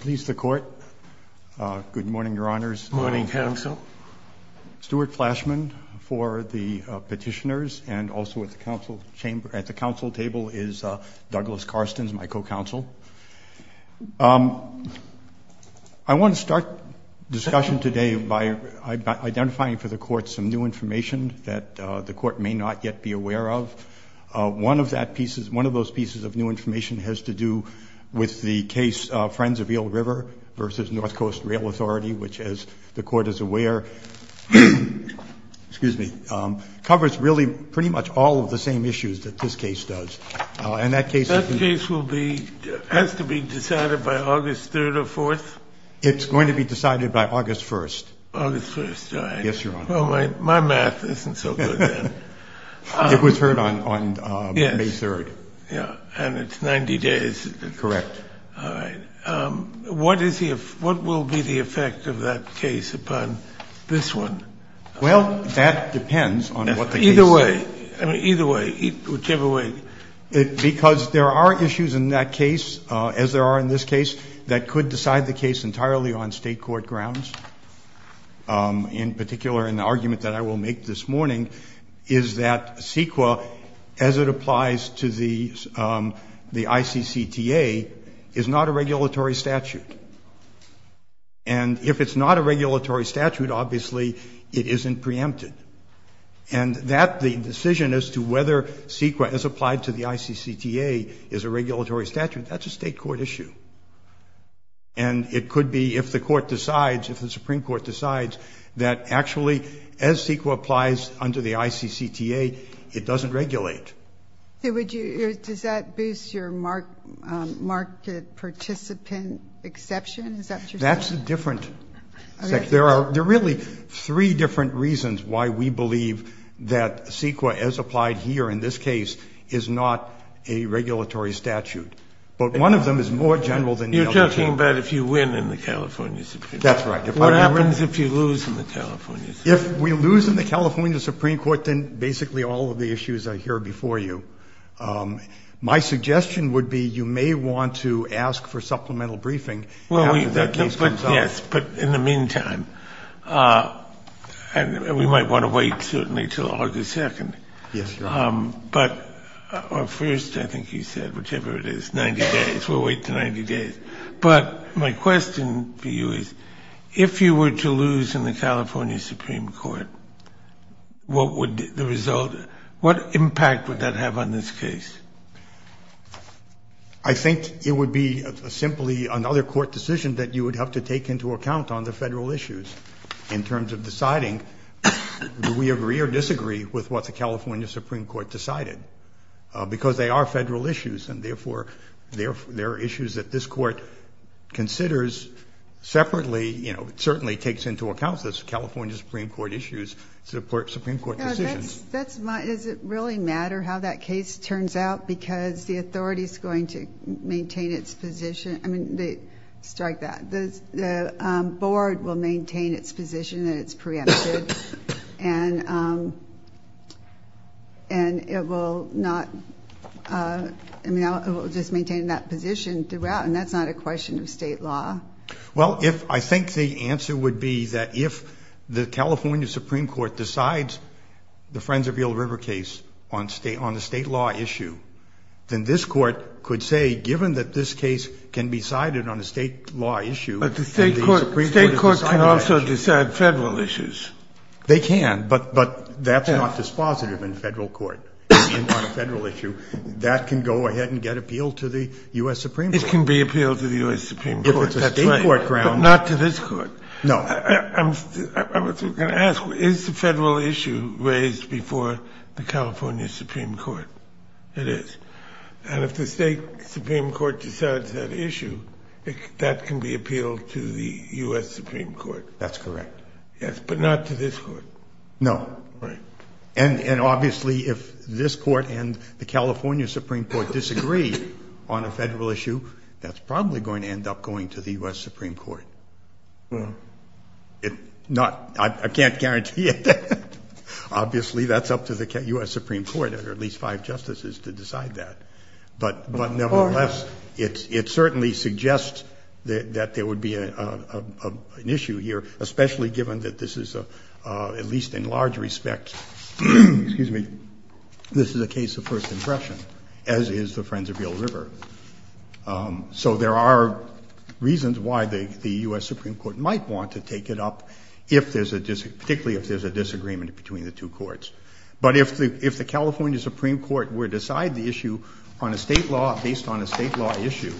Please the court. Good morning, Your Honors. Morning, Counsel. Stuart Flashman for the petitioners and also at the council table is Douglas Carstens, my co-counsel. I want to start discussion today by identifying for the court some new information that the court may not yet be aware of. One of those pieces of new information has to do with the case Friends of Eel River versus North Coast Rail Authority, which as the court is aware, covers really pretty much all of the same issues that this case does. And that case has to be decided by August 3rd or 4th? It's going to be decided by August 3rd. And it's 90 days? Correct. All right. What is the, what will be the effect of that case upon this one? Well, that depends on what the case is. Either way, either way, whichever way. Because there are issues in that case, as there are in this case, that could decide the case entirely on state court grounds. In particular, an argument that I will make this morning is that CEQA, as it applies to the ICCTA, is not a regulatory statute. And if it's not a regulatory statute, obviously it isn't preempted. And that, the decision as to whether CEQA as applied to the ICCTA is a regulatory statute, that's a state court issue. And it could be, if the court decides, if the Supreme Court decides that actually, as CEQA applies under the ICCTA, it doesn't regulate. Does that boost your market participant exception? That's a different, there are really three different reasons why we believe that CEQA, as applied here in this case, is not a regulatory statute. But one of them is more general than the other. You're talking about if you win in the California Supreme Court. That's right. What happens if you lose in the California Supreme Court? If we lose in the California Supreme Court, then basically all of the issues I hear before you. My suggestion would be you may want to ask for supplemental briefing after that case comes up. Well, yes. But in the meantime, and we might want to wait, certainly, until August 2nd. Yes, Your Honor. But, or first, I think you said, whichever it is, 90 days. We'll wait to 90 days. But my question for you is, if you were to lose in the California Supreme Court, what would the result, what impact would that have on this case? I think it would be simply another court decision that you would have to take into account on the federal issues in terms of deciding do we agree or disagree with what the California Supreme Court decided. Because they are federal issues, and therefore, there are issues that this court considers separately, you know, it certainly takes into account those California Supreme Court issues to support Supreme Court decisions. That's my, does it really matter how that case turns out? Because the authority is going to maintain its position. I mean, strike that. The board will maintain its position that it's preempted. And it will not, I mean, it will just maintain that position throughout, and that's not a question of state law. Well, if, I think the answer would be that if the California Supreme Court decides the Friends of Yule River case on state, on the state law issue, then this court could say, given that this case can be sided on a state law issue. But the state court can also decide federal issues. They can, but that's not dispositive in federal court, on a federal issue. That can go ahead and get appealed to the U.S. Supreme Court. It can be appealed to the U.S. Supreme Court. If it's a state court grounds. But not to this court. No. I was going to ask, is the federal issue raised before the California Supreme Court? It is. And if the state Supreme Court decides that issue, that can be appealed to the U.S. Supreme Court. That's correct. Yes, but not to this court. No. And obviously, if this court and the California Supreme Court disagree on a federal issue, that's probably going to end up going to the U.S. Supreme Court. I can't guarantee it. Obviously, that's up to the U.S. Supreme Court, or at least five justices, to decide that. But nevertheless, it certainly suggests that there would be an issue here, especially given that this is, at least in large respect, excuse me, this is a case of first impression, as is the Friends of Yale River. So there are reasons why the U.S. Supreme Court might want to take it up, particularly if there's a disagreement between the two courts. But if the California Supreme Court were to decide the issue on a state law, based on a state law issue,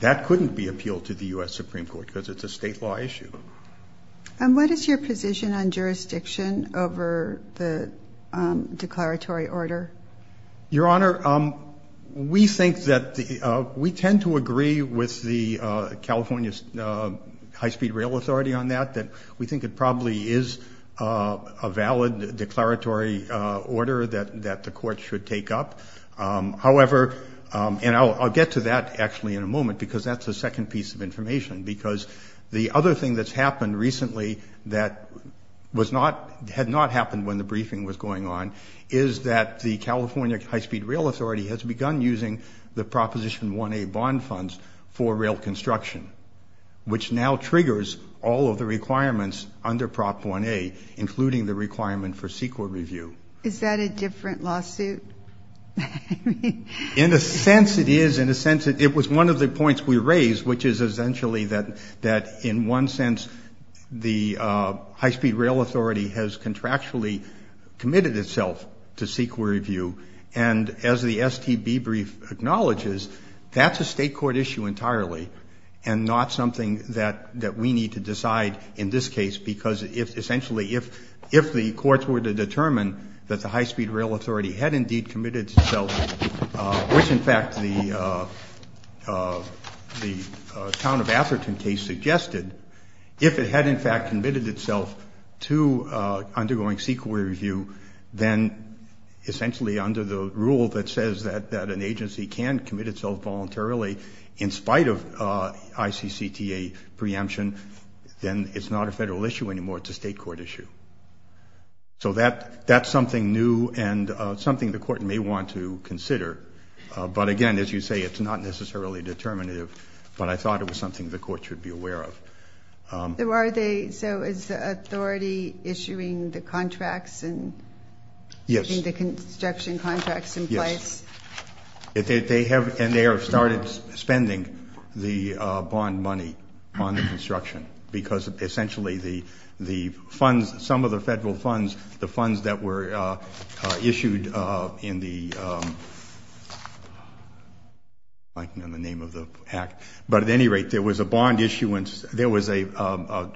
that couldn't be appealed to the U.S. Supreme Court, because it's a state law issue. And what is your position on jurisdiction over the declaratory order? Your Honor, we think that the, we tend to agree with the California High Speed Rail Authority on that, that we think it probably is a valid declaratory order that the court should take up. However, and I'll get to that, actually, in a moment, because that's the second piece of information. Because the other thing that's happened recently that was not, had not happened when the briefing was going on, is that the California High Speed Rail Authority has begun using the Proposition 1A bond funds for rail construction, which now triggers all of the requirements under Prop 1A, including the requirement for CEQA review. Is that a different lawsuit? In a sense, it is. In a sense, it was one of the points we raised, which is essentially that, in one sense, the High Speed Rail Authority has contractually committed itself to CEQA review. And as the STB brief acknowledges, that's a state court issue entirely, and not something that we need to decide in this case. Because, essentially, if the courts were to determine that the High Speed Rail Authority had indeed committed itself, which, in fact, the Town of Atherton case suggested, if it had, in fact, committed itself to undergoing CEQA review, then, essentially, under the rule that says that an agency can commit itself voluntarily, in spite of ICCTA preemption, then it's not a federal issue anymore. It's a state court issue. So that's something new and something the court may want to consider. But again, as you say, it's not necessarily determinative. But I thought it was something the court should be aware of. So is the authority issuing the contracts and putting the construction contracts in place? Yes. They have started spending the bond money on the construction. Because, essentially, some of the federal funds, the funds that were issued in the name of the act. But at any rate, there was a bond issuance. There was a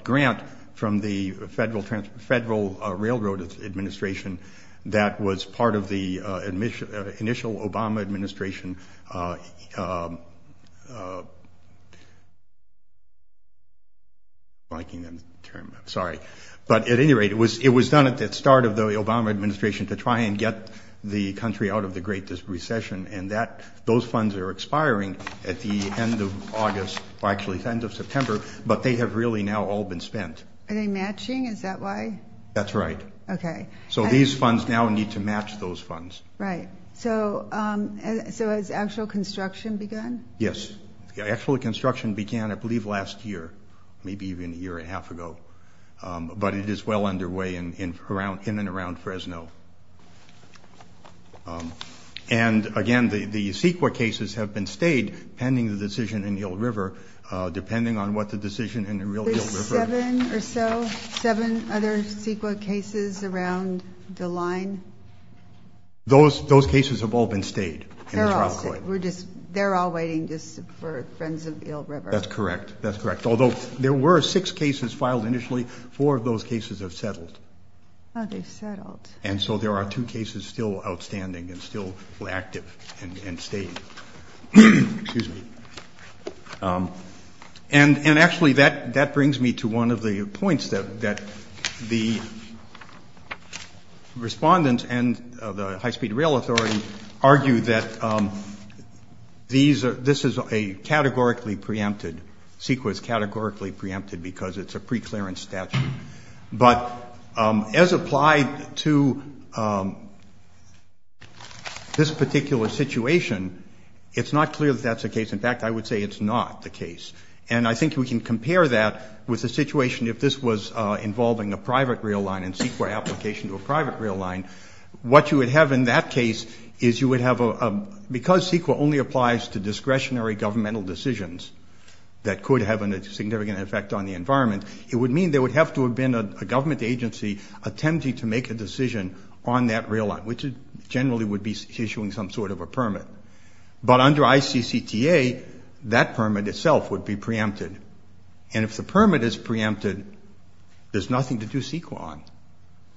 grant from the Federal Railroad Administration that was part of the initial Obama administration. I'm blanking on the term. Sorry. But at any rate, it was done at the start of the Obama administration to try and get the country out of the Great Recession. And those funds are expiring at the end of August, or actually the end of September. But they have really now all been spent. Are they matching? Is that why? That's right. Okay. So these funds now need to match those funds. Right. So has actual construction begun? Actual construction began, I believe, last year, maybe even a year and a half ago. But it is well underway in and around Fresno. And, again, the CEQA cases have been stayed pending the decision in Yule River, depending on what the decision in the real Yule River. Seven or so? Seven other CEQA cases around the line? Those cases have all been stayed in the trial court. They're all waiting just for Frens of Yule River. That's correct. That's correct. Although there were six cases filed initially, four of those cases have settled. Oh, they've settled. And so there are two cases still outstanding and still active and staying. Excuse me. And, actually, that brings me to one of the points that the respondents and the high-speed rail authority argue that this is a categorically preempted, CEQA is categorically preempted because it's a preclearance statute. But as applied to this particular situation, it's not clear that that's the case. In fact, I would say it's not the case. And I think we can compare that with the situation if this was involving a private rail line and CEQA application to a private rail line. What you would have in that case is you would have a... Because CEQA only applies to discretionary governmental decisions that could have a significant effect on the environment, it would mean they would have to have been a government agency attempting to make a decision on that rail line, which generally would be issuing some sort of a permit. But under ICCTA, that permit itself would be preempted. And if the permit is preempted, there's nothing to do CEQA on.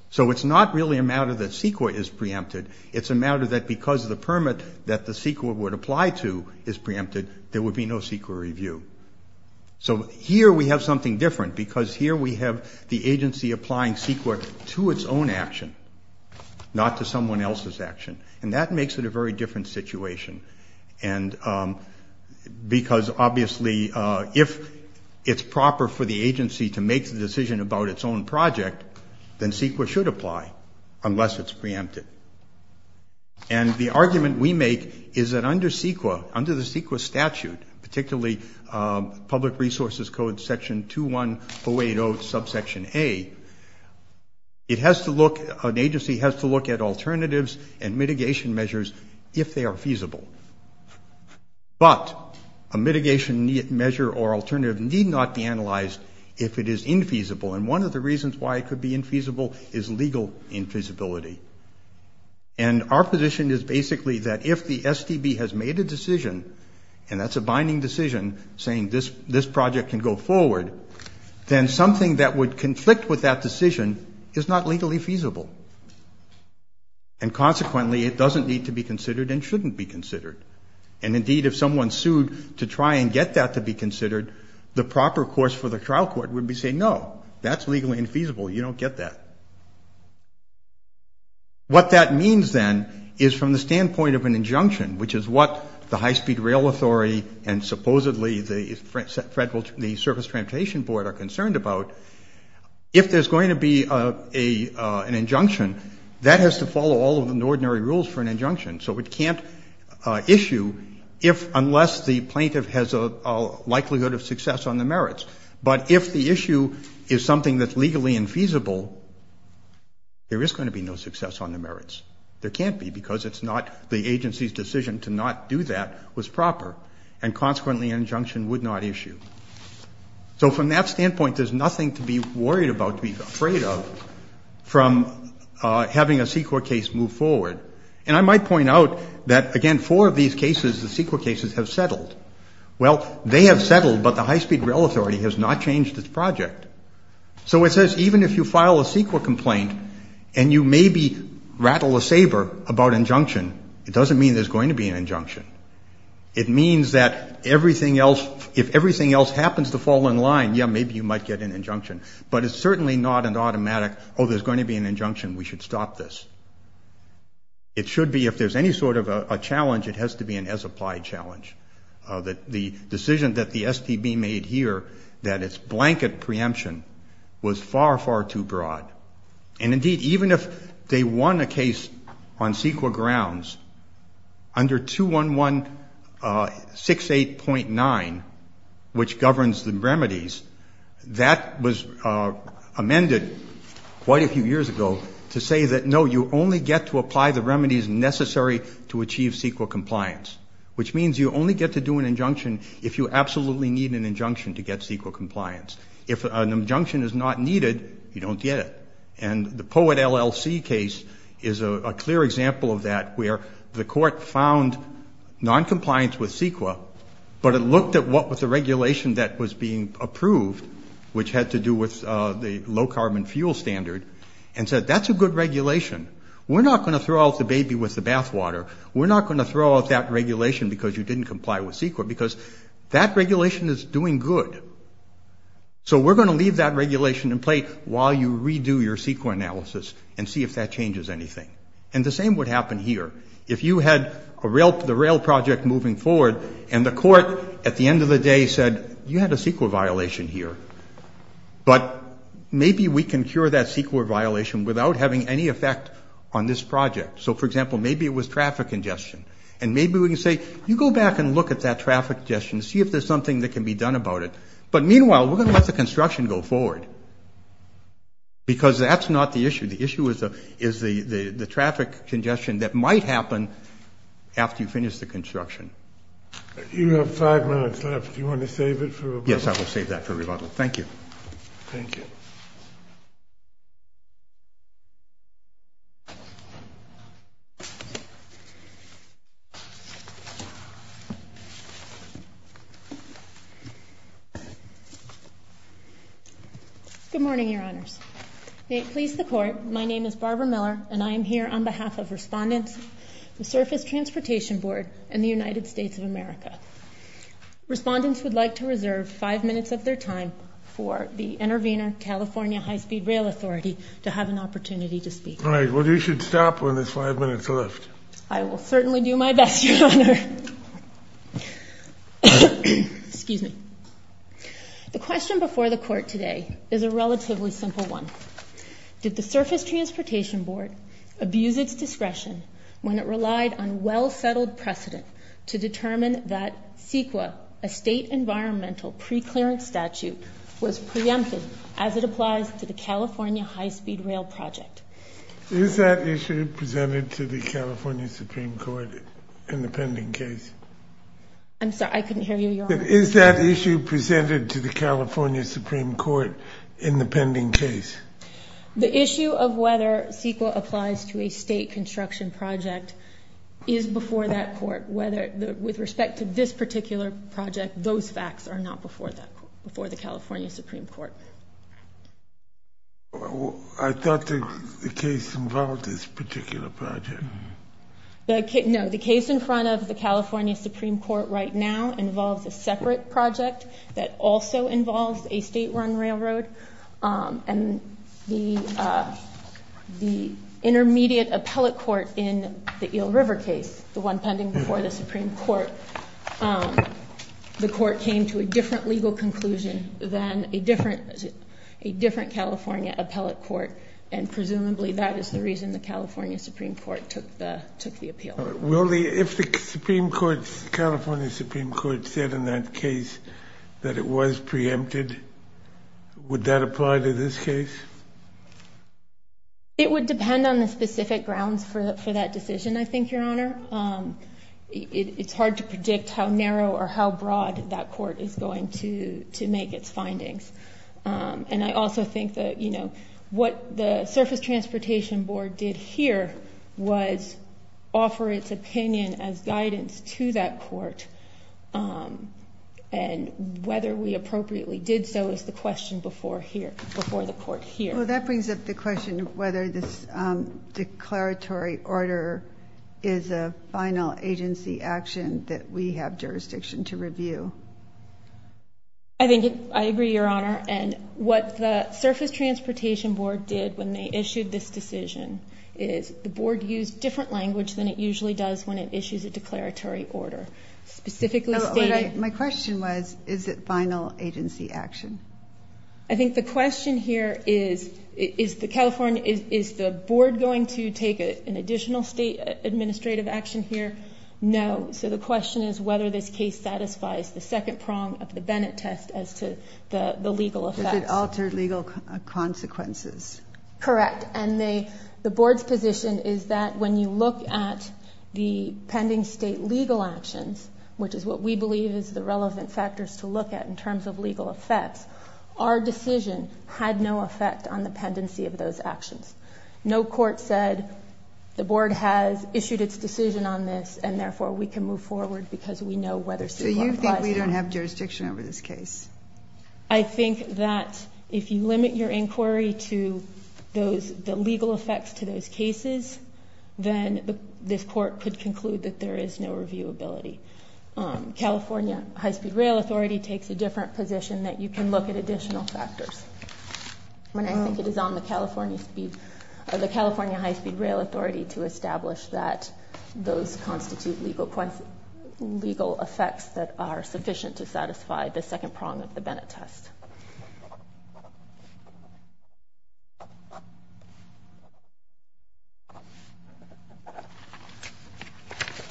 So it's not really a matter that CEQA is preempted. It's a matter that because the permit that the CEQA would apply to is preempted, there would be no CEQA review. So here we have something different because here we have the agency applying CEQA to its own action, not to someone else's action. And that makes it a very different situation. And because obviously if it's proper for the agency to make the decision about its own project, then CEQA should apply unless it's preempted. And the argument we make is that under CEQA, under the CEQA statute, particularly public resources code section 21-080 subsection A, an agency has to look at alternatives and mitigation measures if they are feasible. But a mitigation measure or alternative need not be analyzed if it is infeasible. And one of the reasons why it could be infeasible is legal infeasibility. And our position is basically that if the STB has made a decision, and that's a binding decision, saying this project can go forward, then something that would conflict with that decision is not legally feasible. And consequently, it doesn't need to be considered and shouldn't be considered. And indeed, if someone sued to try and get that to be considered, the proper course for the trial court would be to say no, that's legally infeasible, you don't get that. What that means then is from the standpoint of an injunction, which is what the High Speed Rail Authority and supposedly the Federal, the Surface Transportation Board are concerned about, if there's going to be an injunction, that has to follow all of the ordinary rules for an injunction. So it can't issue unless the plaintiff has a likelihood of success on the merits. But if the issue is something that's legally infeasible, there is going to be no success on the merits. There can't be, because it's not the agency's decision to not do that was proper. And consequently, an injunction would not issue. So from that standpoint, there's nothing to be worried about, to be afraid of, from having a CEQA case move forward. And I might point out that, again, four of these cases, the CEQA cases, have settled. Well, they have settled, but the High Speed Rail Authority has not changed its project. So it says even if you file a CEQA complaint and you maybe rattle a saber about injunction, it doesn't mean there's going to be an injunction. It means that everything else, if everything else happens to fall in line, yeah, maybe you might get an injunction. But it's certainly not an automatic, oh, there's going to be an injunction, we should stop this. It should be, if there's any sort of a challenge, it has to be an as-applied challenge. The decision that the STB made here, that it's blanket preemption, was far, far too broad. And indeed, even if they won a case on CEQA grounds, under 21168.9, which governs the remedies, that was amended quite a few years ago to say that no, you only get to apply the remedies necessary to achieve CEQA compliance. Which means you only get to do an injunction if you absolutely need an injunction to get CEQA compliance. If an injunction is not needed, you don't get it. And the Poet LLC case is a clear example of that, where the court found noncompliance with CEQA, but it looked at what was the regulation that was being approved, which had to do with the low carbon fuel standard, and said that's a good regulation. We're not going to throw out the baby with the bathwater. We're not going to throw out that regulation because you didn't comply with CEQA, because that regulation is doing good. So we're going to leave that regulation in place while you redo your CEQA analysis and see if that changes anything. And the same would happen here. If you had the rail project moving forward, and the court at the end of the day said, you had a CEQA violation here, but maybe we can cure that CEQA violation without having any effect on this project. So, for example, maybe it was traffic congestion. And maybe we can say, you go back and look at that traffic congestion, see if there's something that can be done about it. But meanwhile, we're going to let the construction go forward, because that's not the issue. The issue is the traffic congestion that might happen after you finish the construction. You have five minutes left. Do you want to save it for rebuttal? Yes, I will save that for rebuttal. Thank you. Thank you. Good morning, your honors. May it please the court, my name is Barbara Miller, and I am here on behalf of respondents, the Surface Transportation Board, and the United States of America. Respondents would like to reserve five minutes of their time for the Intervenor California High Speed Rail Authority to have an opportunity to speak. All right, well, you should stop when there's five minutes left. I will certainly do my best, your honor. Excuse me. The question before the court today is a relatively simple one. Did the Surface Transportation Board abuse its discretion when it relied on well-settled precedent to determine that CEQA, a state environmental pre-clearance statute, was preempted as it applies to the California High Speed Rail project? Is that issue presented to the California Supreme Court in the pending case? I'm sorry, I couldn't hear you, your honor. Is that issue presented to the California Supreme Court in the pending case? The issue of whether CEQA applies to a state construction project is before that court. Whether, with respect to this particular project, those facts are not before the California Supreme Court. I thought the case involved this particular project. No, the case in front of the California Supreme Court right now involves a separate project that also involves a state-run railroad. And the intermediate appellate court in the Eel River case, the one pending before the Supreme Court, the court came to a different legal conclusion than a different California appellate court. And presumably that is the reason the California Supreme Court took the appeal. Will the, if the Supreme Court, California Supreme Court said in that case that it was preempted, would that apply to this case? It would depend on the specific grounds for that decision, I think, your honor. It's hard to predict how narrow or how broad that court is going to make its findings. And I also think that what the Surface Transportation Board did here was offer its opinion as guidance to that court. And whether we appropriately did so is the question before here, before the court here. Well, that brings up the question of whether this declaratory order is a final agency action that we have jurisdiction to review. I think, I agree, your honor. And what the Surface Transportation Board did when they issued this decision is the board used different language than it usually does when it issues a declaratory order. Specifically stated- My question was, is it final agency action? I think the question here is, is the California, is the board going to take an additional state administrative action here? No, so the question is whether this case satisfies the second prong of the Bennett test as to the legal effects. If it altered legal consequences. Correct, and the board's position is that when you look at the pending state legal actions, which is what we believe is the relevant factors to look at in terms of legal effects, our decision had no effect on the pendency of those actions. No court said the board has issued its decision on this and therefore we can move forward because we know whether- So you think we don't have jurisdiction over this case? I think that if you limit your inquiry to the legal effects to those cases, then this court could conclude that there is no reviewability. California High-Speed Rail Authority takes a different position that you can look at additional factors. When I think it is on the California High-Speed Rail Authority to establish that those constitute legal effects that are sufficient to satisfy the second prong of the Bennett test.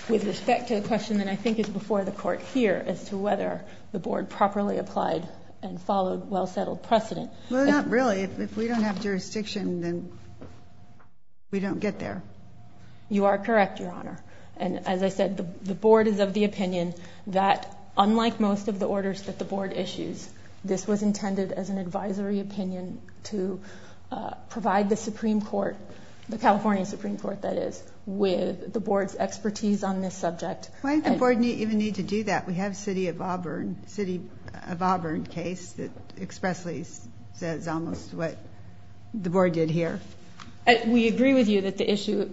With respect to the question that I think is before the court here as to whether the board properly applied and followed well-settled precedent. Well, not really. If we don't have jurisdiction, then we don't get there. You are correct, Your Honor. And as I said, the board is of the opinion that unlike most of the orders that the board issues, this was intended as an advisory opinion to provide the Supreme Court, the California Supreme Court that is, with the board's expertise on this subject. Why did the board even need to do that? We have City of Auburn case that expressly says almost what the board did here. We agree with you that the issue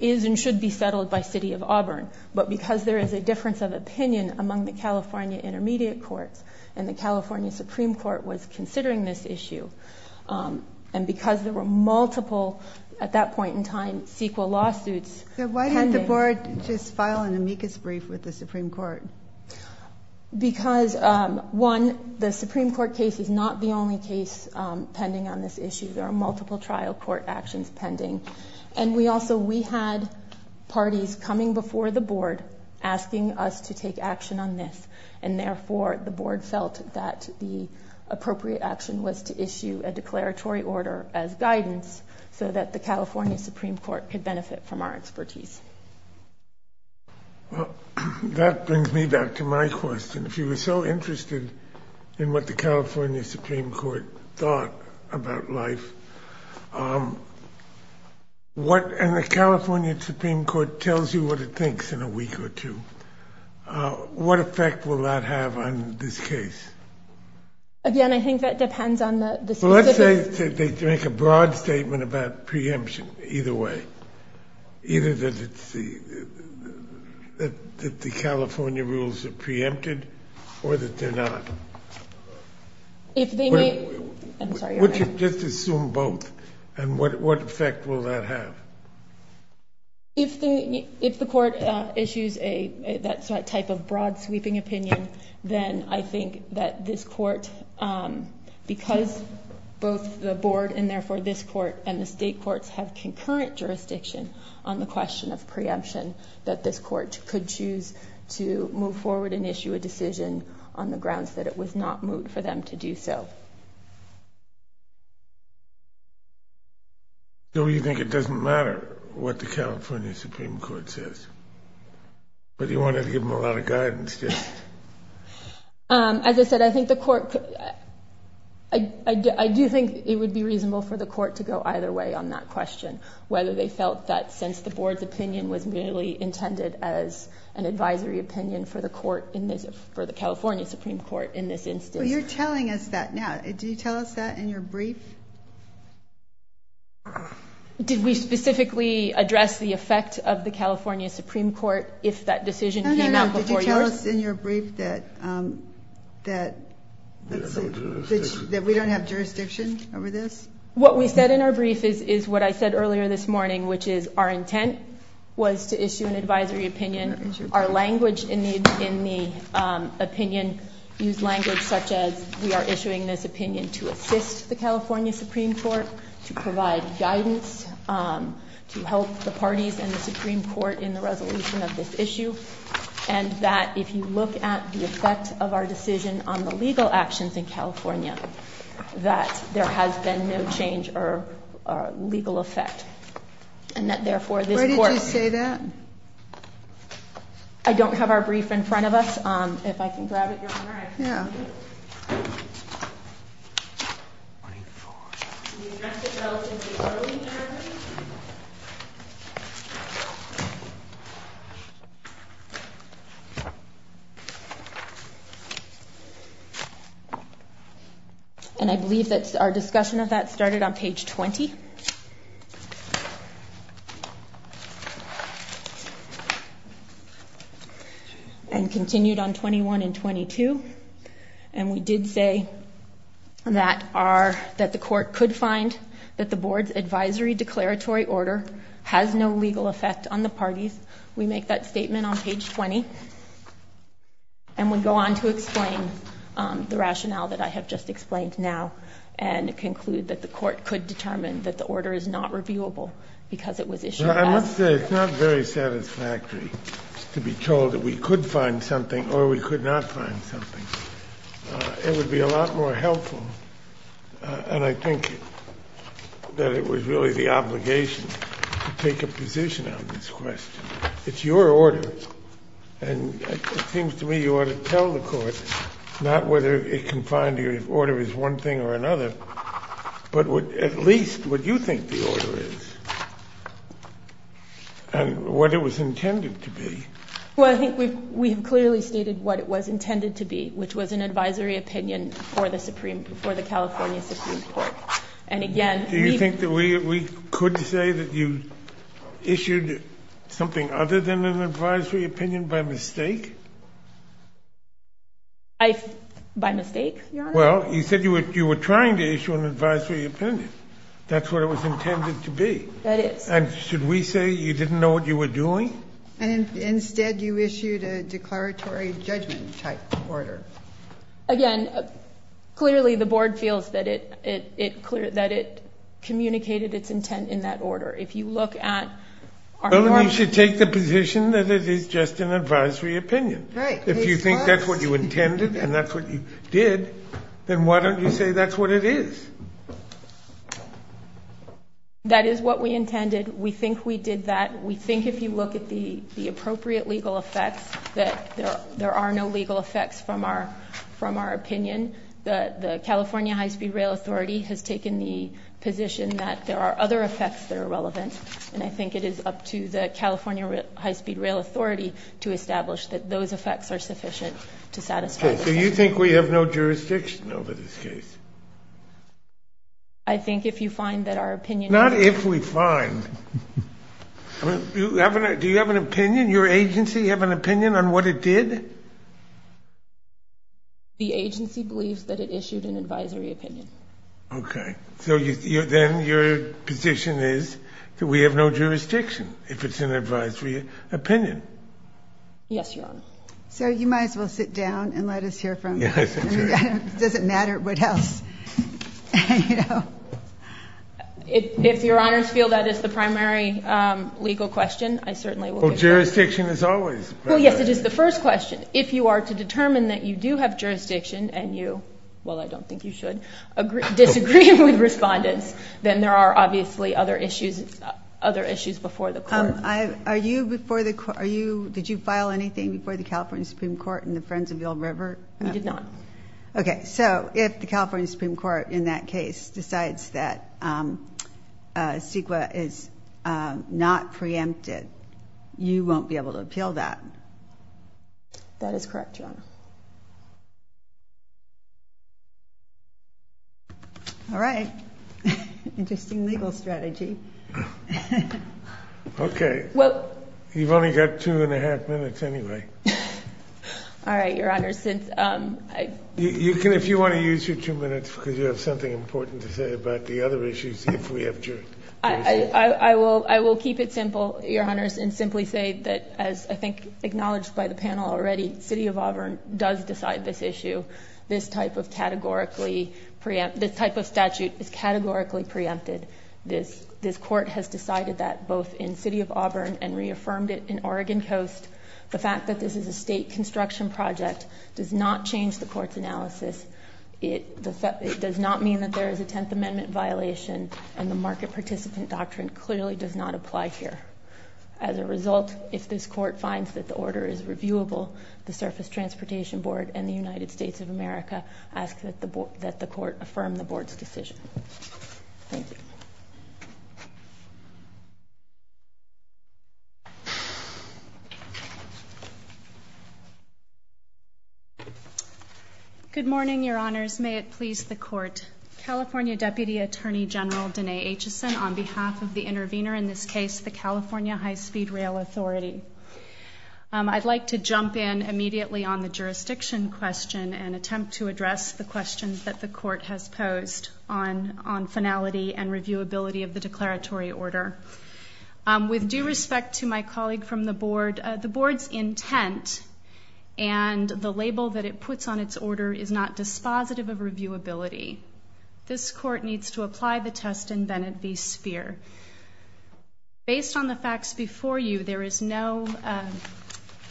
is and should be settled by City of Auburn. But because there is a difference of opinion among the California Intermediate Courts, and the California Supreme Court was considering this issue, and because there were multiple, at that point in time, CEQA lawsuits. So why didn't the board just file an amicus brief with the Supreme Court? Because, one, the Supreme Court case is not the only case pending on this issue. There are multiple trial court actions pending. And we also, we had parties coming before the board asking us to take action on this. And therefore, the board felt that the appropriate action was to issue a declaratory order as guidance so that the California Supreme Court could benefit from our expertise. Well, that brings me back to my question. If you were so interested in what the California Supreme Court thought about life, what, and the California Supreme Court tells you what it thinks in a week or two. What effect will that have on this case? Again, I think that depends on the- Well, let's say that they make a broad statement about preemption, either way. Either that it's the, that the California rules are preempted, or that they're not. If they may, I'm sorry. Would you just assume both? And what effect will that have? If the, if the court issues a, that type of broad sweeping opinion, then I think that this court, because both the board, and therefore this court, and the state courts have concurrent jurisdiction on the question of preemption. That this court could choose to move forward and issue a decision on the grounds that it was not moot for them to do so. So you think it doesn't matter what the California Supreme Court says? But you wanted to give them a lot of guidance, just. As I said, I think the court, I do think it would be reasonable for the court to go either way on that question. Whether they felt that since the board's opinion was merely intended as an advisory opinion for the court in this, for the California Supreme Court in this instance. You're telling us that now. Did you tell us that in your brief? Did we specifically address the effect of the California Supreme Court if that decision came out before yours? No, no, no. Did you tell us in your brief that, that we don't have jurisdiction over this? What we said in our brief is, is what I said earlier this morning, which is our intent was to issue an advisory opinion. Our language in the opinion used language such as, we are issuing this opinion to assist the California Supreme Court. To provide guidance, to help the parties and the Supreme Court in the resolution of this issue. And that if you look at the effect of our decision on the legal actions in California, that there has been no change or legal effect, and that therefore this court- Where did you say that? I don't have our brief in front of us. If I can grab it, Your Honor, I can give it to you. Yeah. Twenty-four. We addressed it relatively early in the hearing. And I believe that our discussion of that started on page 20. And continued on 21 and 22. And we did say that our, that the court could find that the board's advisory declaratory order has no legal effect on the parties. We make that statement on page 20. And we go on to explain the rationale that I have just explained now. And conclude that the court could determine that the order is not reviewable because it was issued- It's not very satisfactory to be told that we could find something or we could not find something. It would be a lot more helpful, and I think that it was really the obligation to take a position on this question. It's your order. And it seems to me you ought to tell the court, not whether it can find you if order is one thing or another, but at least what you think the order is. And what it was intended to be. Well, I think we have clearly stated what it was intended to be, which was an advisory opinion for the California Supreme Court. And again- Do you think that we could say that you issued something other than an advisory opinion by mistake? By mistake, Your Honor? Well, you said you were trying to issue an advisory opinion. That's what it was intended to be. That is. And should we say you didn't know what you were doing? And instead you issued a declaratory judgment type order. Again, clearly the board feels that it communicated its intent in that order. If you look at- Well, then you should take the position that it is just an advisory opinion. Right. If you think that's what you intended and that's what you did, then why don't you say that's what it is? That is what we intended. We think we did that. We think if you look at the appropriate legal effects, that there are no legal effects from our opinion. The California High-Speed Rail Authority has taken the position that there are other effects that are relevant. And I think it is up to the California High-Speed Rail Authority to establish that those effects are sufficient to satisfy- Okay. So you think we have no jurisdiction over this case? I think if you find that our opinion- Not if we find. Do you have an opinion? Your agency have an opinion on what it did? The agency believes that it issued an advisory opinion. Okay. So then your position is that we have no jurisdiction if it's an advisory opinion. Yes, Your Honor. So you might as well sit down and let us hear from you. Yes, I'm sorry. It doesn't matter what else. You know. If Your Honors feel that is the primary legal question, I certainly will- Well, jurisdiction is always- Well, yes. It is the first question. If you are to determine that you do have jurisdiction and you, well, I don't think you should disagree with respondents, then there are obviously other issues before the court. Are you before the- Did you file anything before the California Supreme Court and the Friends of Yellow River? We did not. Okay. So if the California Supreme Court, in that case, decides that CEQA is not preempted, you won't be able to appeal that? That is correct, Your Honor. All right. Interesting legal strategy. Okay. Well- You've only got two and a half minutes anyway. All right, Your Honor. You can, if you want to use your two minutes because you have something important to say about the other issues if we have jurisdiction. I will keep it simple, Your Honors, and simply say that as I think acknowledged by the panel already, City of Auburn does decide this issue. This type of statute is categorically preempted. This court has decided that both in City of Auburn and reaffirmed it in Oregon Coast. The fact that this is a state construction project does not change the court's analysis. It does not mean that there is a Tenth Amendment violation and the market participant doctrine clearly does not apply here. As a result, if this court finds that the order is reviewable, the Surface Transportation Board and the United States of America ask that the court affirm the board's decision. Thank you. Good morning, Your Honors. May it please the court. California Deputy Attorney General Denae Aitchison on behalf of the intervener in this case, the California High-Speed Rail Authority. I'd like to jump in immediately on the jurisdiction question and attempt to address the questions that the court has posed on finality and reviewability of the declaratory order. With due respect to my colleague from the board, the board's intent and the label that it puts on its order is not dispositive of reviewability. This court needs to apply the test in Bennett v. Sphere. Based on the facts before you, there is no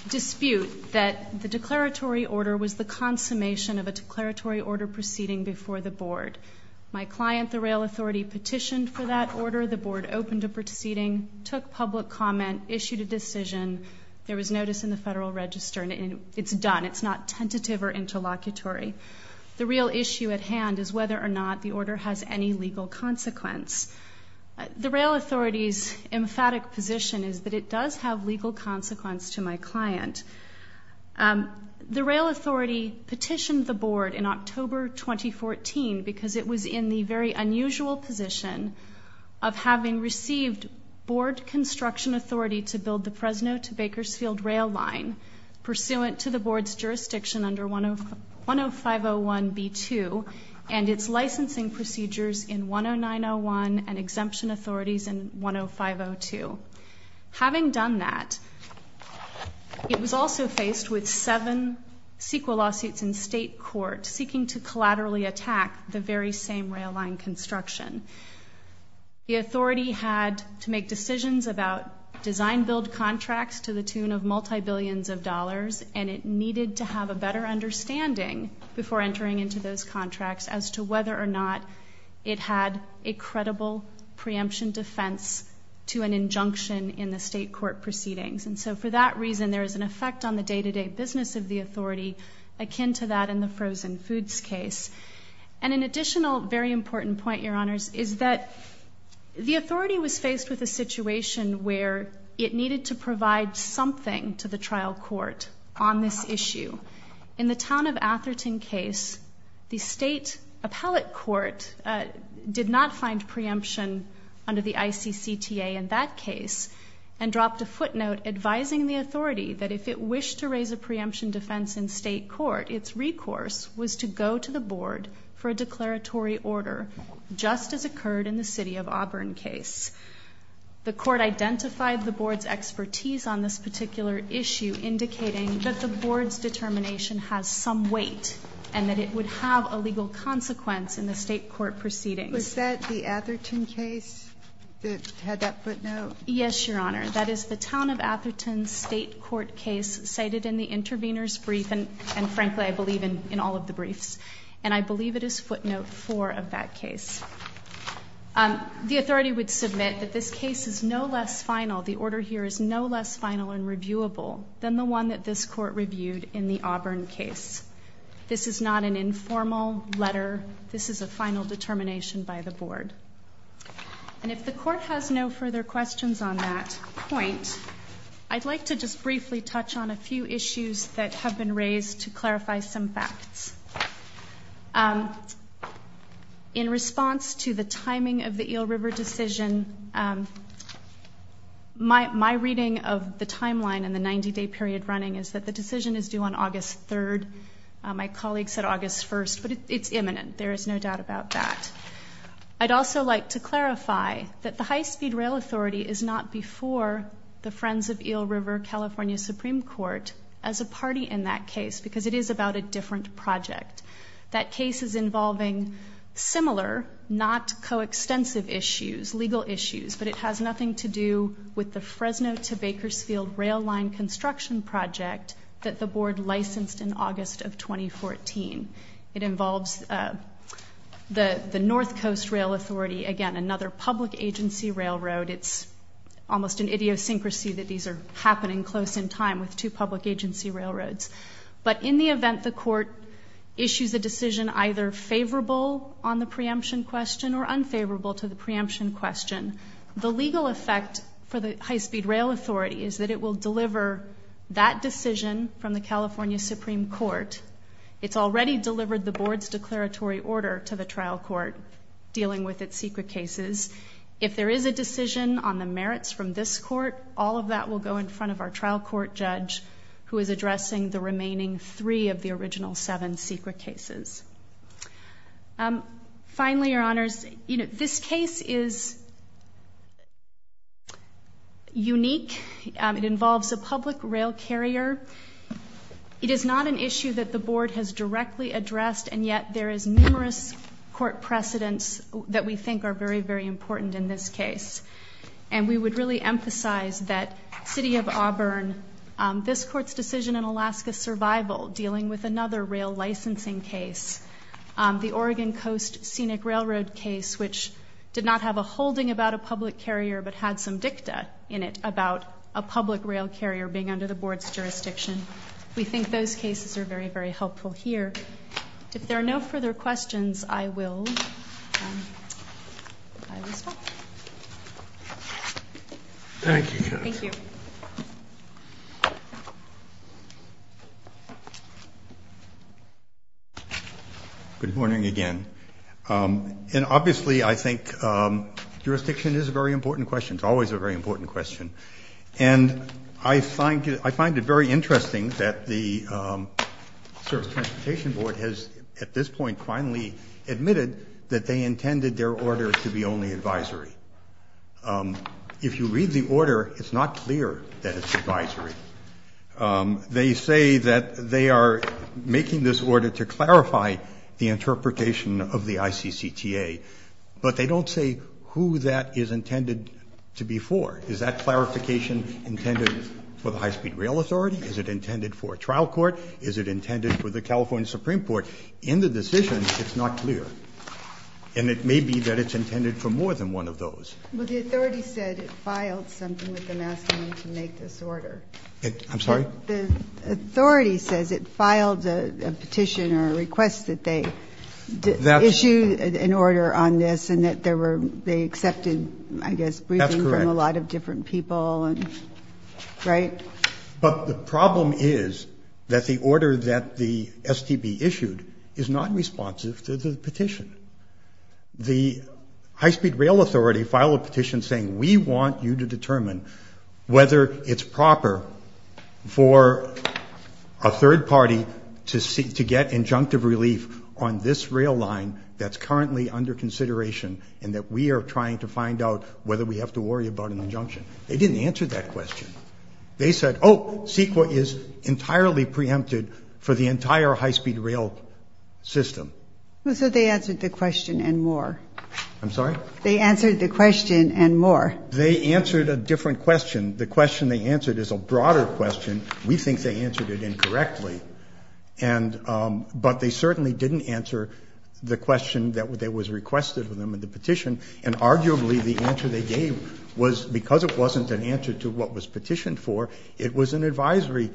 dispute that the declaratory order was the consummation of a declaratory order proceeding before the board. My client, the Rail Authority, petitioned for that order. The board opened a proceeding, took public comment, issued a decision. There was notice in the Federal Register, and it's done. It's not tentative or interlocutory. The real issue at hand is whether or not the order has any legal consequence. The Rail Authority's emphatic position is that it does have legal consequence to my client. The Rail Authority petitioned the board in October 2014 because it was in the very unusual position of having received board construction authority to build the Fresno to Bakersfield rail line pursuant to the board's jurisdiction under 10501b2 and its licensing procedures in 10901 and exemption authorities in 10502. Having done that, it was also faced with seven CEQA lawsuits in state court seeking to collaterally attack the very same rail line construction. The authority had to make decisions about design-build contracts to the tune of multi-billions of dollars, and it needed to have a better understanding before entering into those contracts as to whether or not it had a credible preemption defense to an injunction in the state court proceedings. And so for that reason, there is an effect on the day-to-day business of the authority akin to that in the frozen foods case. And an additional very important point, Your Honors, is that the authority was faced with a situation where it needed to provide something to the trial court on this issue. In the town of Atherton case, the state appellate court did not find preemption under the ICCTA in that case and dropped a footnote advising the authority that if it wished to raise a preemption defense in state court, its recourse was to go to the board for a declaratory order just as occurred in the city of Auburn case. The court identified the board's expertise on this particular issue indicating that the board's determination has some weight and that it would have a legal consequence in the state court proceedings. Was that the Atherton case that had that footnote? Yes, Your Honor. That is the town of Atherton's state court case cited in the intervener's brief, and frankly, I believe in all of the briefs. And I believe it is footnote 4 of that case. The authority would submit that this case is no less final, the order here is no less final and reviewable than the one that this court reviewed in the Auburn case. This is not an informal letter. This is a final determination by the board. And if the court has no further questions on that point, I'd like to just briefly touch on a few issues that have been raised to clarify some facts. In response to the timing of the Eel River decision, my reading of the timeline and the 90-day period running is that the decision is due on August 3rd. My colleague said August 1st, but it's imminent. There is no doubt about that. I'd also like to clarify that the High-Speed Rail Authority is not before the Friends of Eel River California Supreme Court as a party in that case because it is about a different project. That case is involving similar, not coextensive issues, legal issues, but it has nothing to do with the Fresno to Bakersfield Rail Line construction project that the board licensed in August of 2014. It involves the North Coast Rail Authority, again, another public agency railroad. It's almost an idiosyncrasy that these are happening close in time with two public agency railroads. But in the event the court issues a decision either favorable on the preemption question or unfavorable to the preemption question, the legal effect for the High-Speed Rail Authority is that it will deliver that decision from the California Supreme Court. It's already delivered the board's declaratory order to the trial court dealing with its secret cases. If there is a decision on the merits from this court, all of that will go in front of our trial court judge who is addressing the remaining three of the original seven secret cases. Finally, Your Honors, this case is unique. It involves a public rail carrier. It is not an issue that the board has directly addressed, and yet there is numerous court precedents that we think are very, very important in this case. And we would really emphasize that City of Auburn, this court's decision in Alaska Survival dealing with another rail licensing case, the Oregon Coast Scenic Railroad case, which did not have a holding about a public carrier but had some dicta in it about a public rail carrier being under the board's jurisdiction. We think those cases are very, very helpful here. If there are no further questions, I will stop. Thank you, Judge. Thank you. Good morning again. And obviously I think jurisdiction is a very important question. It's always a very important question. And I find it very interesting that the Service Transportation Board has at this point finally admitted that they intended their order to be only advisory. If you read the order, it's not clear that it's advisory. They say that they are making this order to clarify the interpretation of the ICCTA, but they don't say who that is intended to be for. Is that clarification intended for the High-Speed Rail Authority? Is it intended for a trial court? Is it intended for the California Supreme Court? In the decision, it's not clear. And it may be that it's intended for more than one of those. Well, the authority said it filed something with them asking them to make this order. I'm sorry? The authority says it filed a petition or a request that they issue an order on this and that they accepted, I guess, briefing from a lot of different people, right? But the problem is that the order that the STB issued is not responsive to the petition. The High-Speed Rail Authority filed a petition saying, we want you to determine whether it's proper for a third party to get injunctive relief on this rail line that's currently under consideration and that we are trying to find out whether we have to worry about an injunction. They didn't answer that question. They said, oh, CEQA is entirely preempted for the entire high-speed rail system. So they answered the question and more? I'm sorry? They answered a different question. The question they answered is a broader question. We think they answered it incorrectly. But they certainly didn't answer the question that was requested of them in the petition and arguably the answer they gave was because it wasn't an answer to what was petitioned for it was an advisory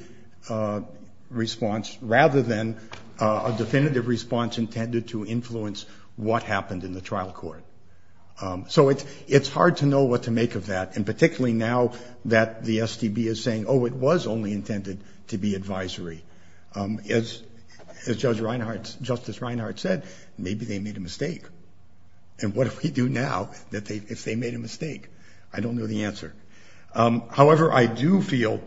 response rather than a definitive response intended to influence what happened in the trial court. So it's hard to know what to make of that and particularly now that the STB is saying oh, it was only intended to be advisory. As Justice Reinhart said maybe they made a mistake and what do we do now if they made a mistake? I don't know the answer. However, I do feel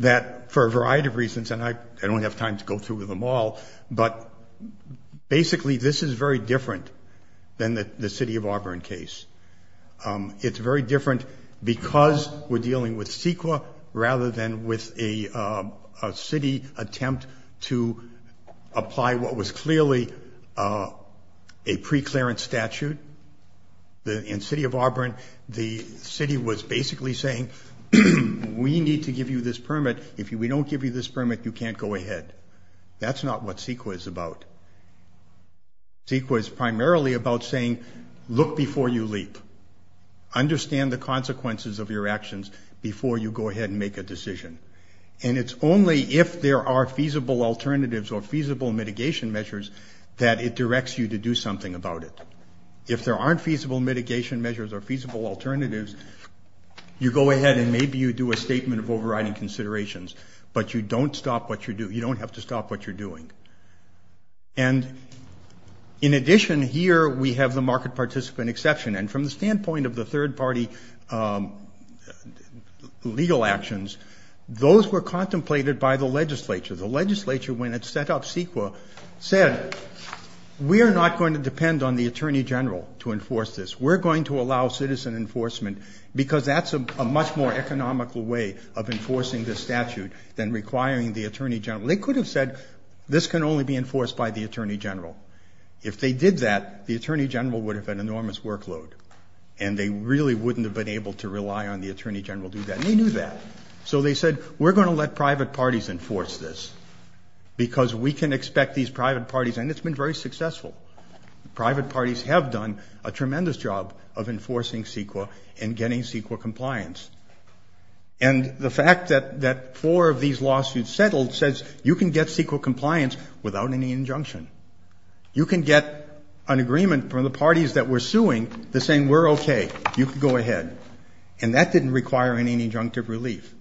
that for a variety of reasons and I don't have time to go through them all but basically this is very different than the City of Auburn case. It's very different because we're dealing with CEQA rather than with a city attempt to apply what was clearly a pre-clearance statute. In City of Auburn the city was basically saying we need to give you this permit. If we don't give you this permit, you can't go ahead. That's not what CEQA is about. CEQA is primarily about saying look before you leap. Understand the consequences of your actions before you go ahead and make a decision. It's only if there are feasible alternatives or feasible mitigation measures that it directs you to do something about it. If there aren't feasible mitigation measures or feasible alternatives, you go ahead and maybe you do a statement of overriding considerations but you don't have to stop what you're doing. And in addition here we have the market participant exception and from the standpoint of the third party legal actions, those were contemplated by the legislature. The legislature when it set up CEQA said we're not going to depend on the Attorney General to enforce this. We're going to allow citizen enforcement because that's a much more economical way of enforcing this statute than requiring the Attorney General. They could have said this can only be enforced by the Attorney General. If they did that, the Attorney General would have an enormous workload and they really wouldn't have been able to rely on the Attorney General to do that and they knew that. So they said we're going to let private parties enforce this because we can expect these private parties and it's been very successful. Private parties have done a tremendous job of enforcing CEQA and getting CEQA compliance. And the fact that four of these lawsuits settled says you can get CEQA compliance without any injunction. You can get an agreement from the parties that we're suing that's saying we're okay, you can go ahead. And that didn't require any injunctive relief.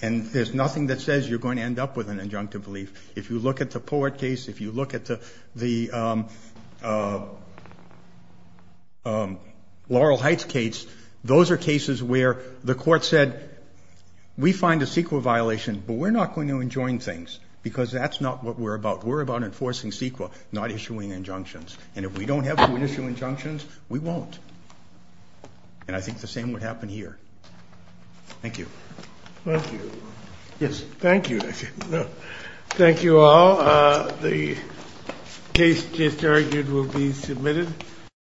And there's nothing that says you're going to end up with an injunctive relief. If you look at the Poet case if you look at the Laurel Heights case those are cases where the court said we find a CEQA violation but we're not going to enjoin things because that's not what we're about. We're about enforcing CEQA, not issuing injunctions. And if we don't have to issue injunctions, we won't. And I think the same would happen here. Thank you. Thank you all. The case just argued will be submitted.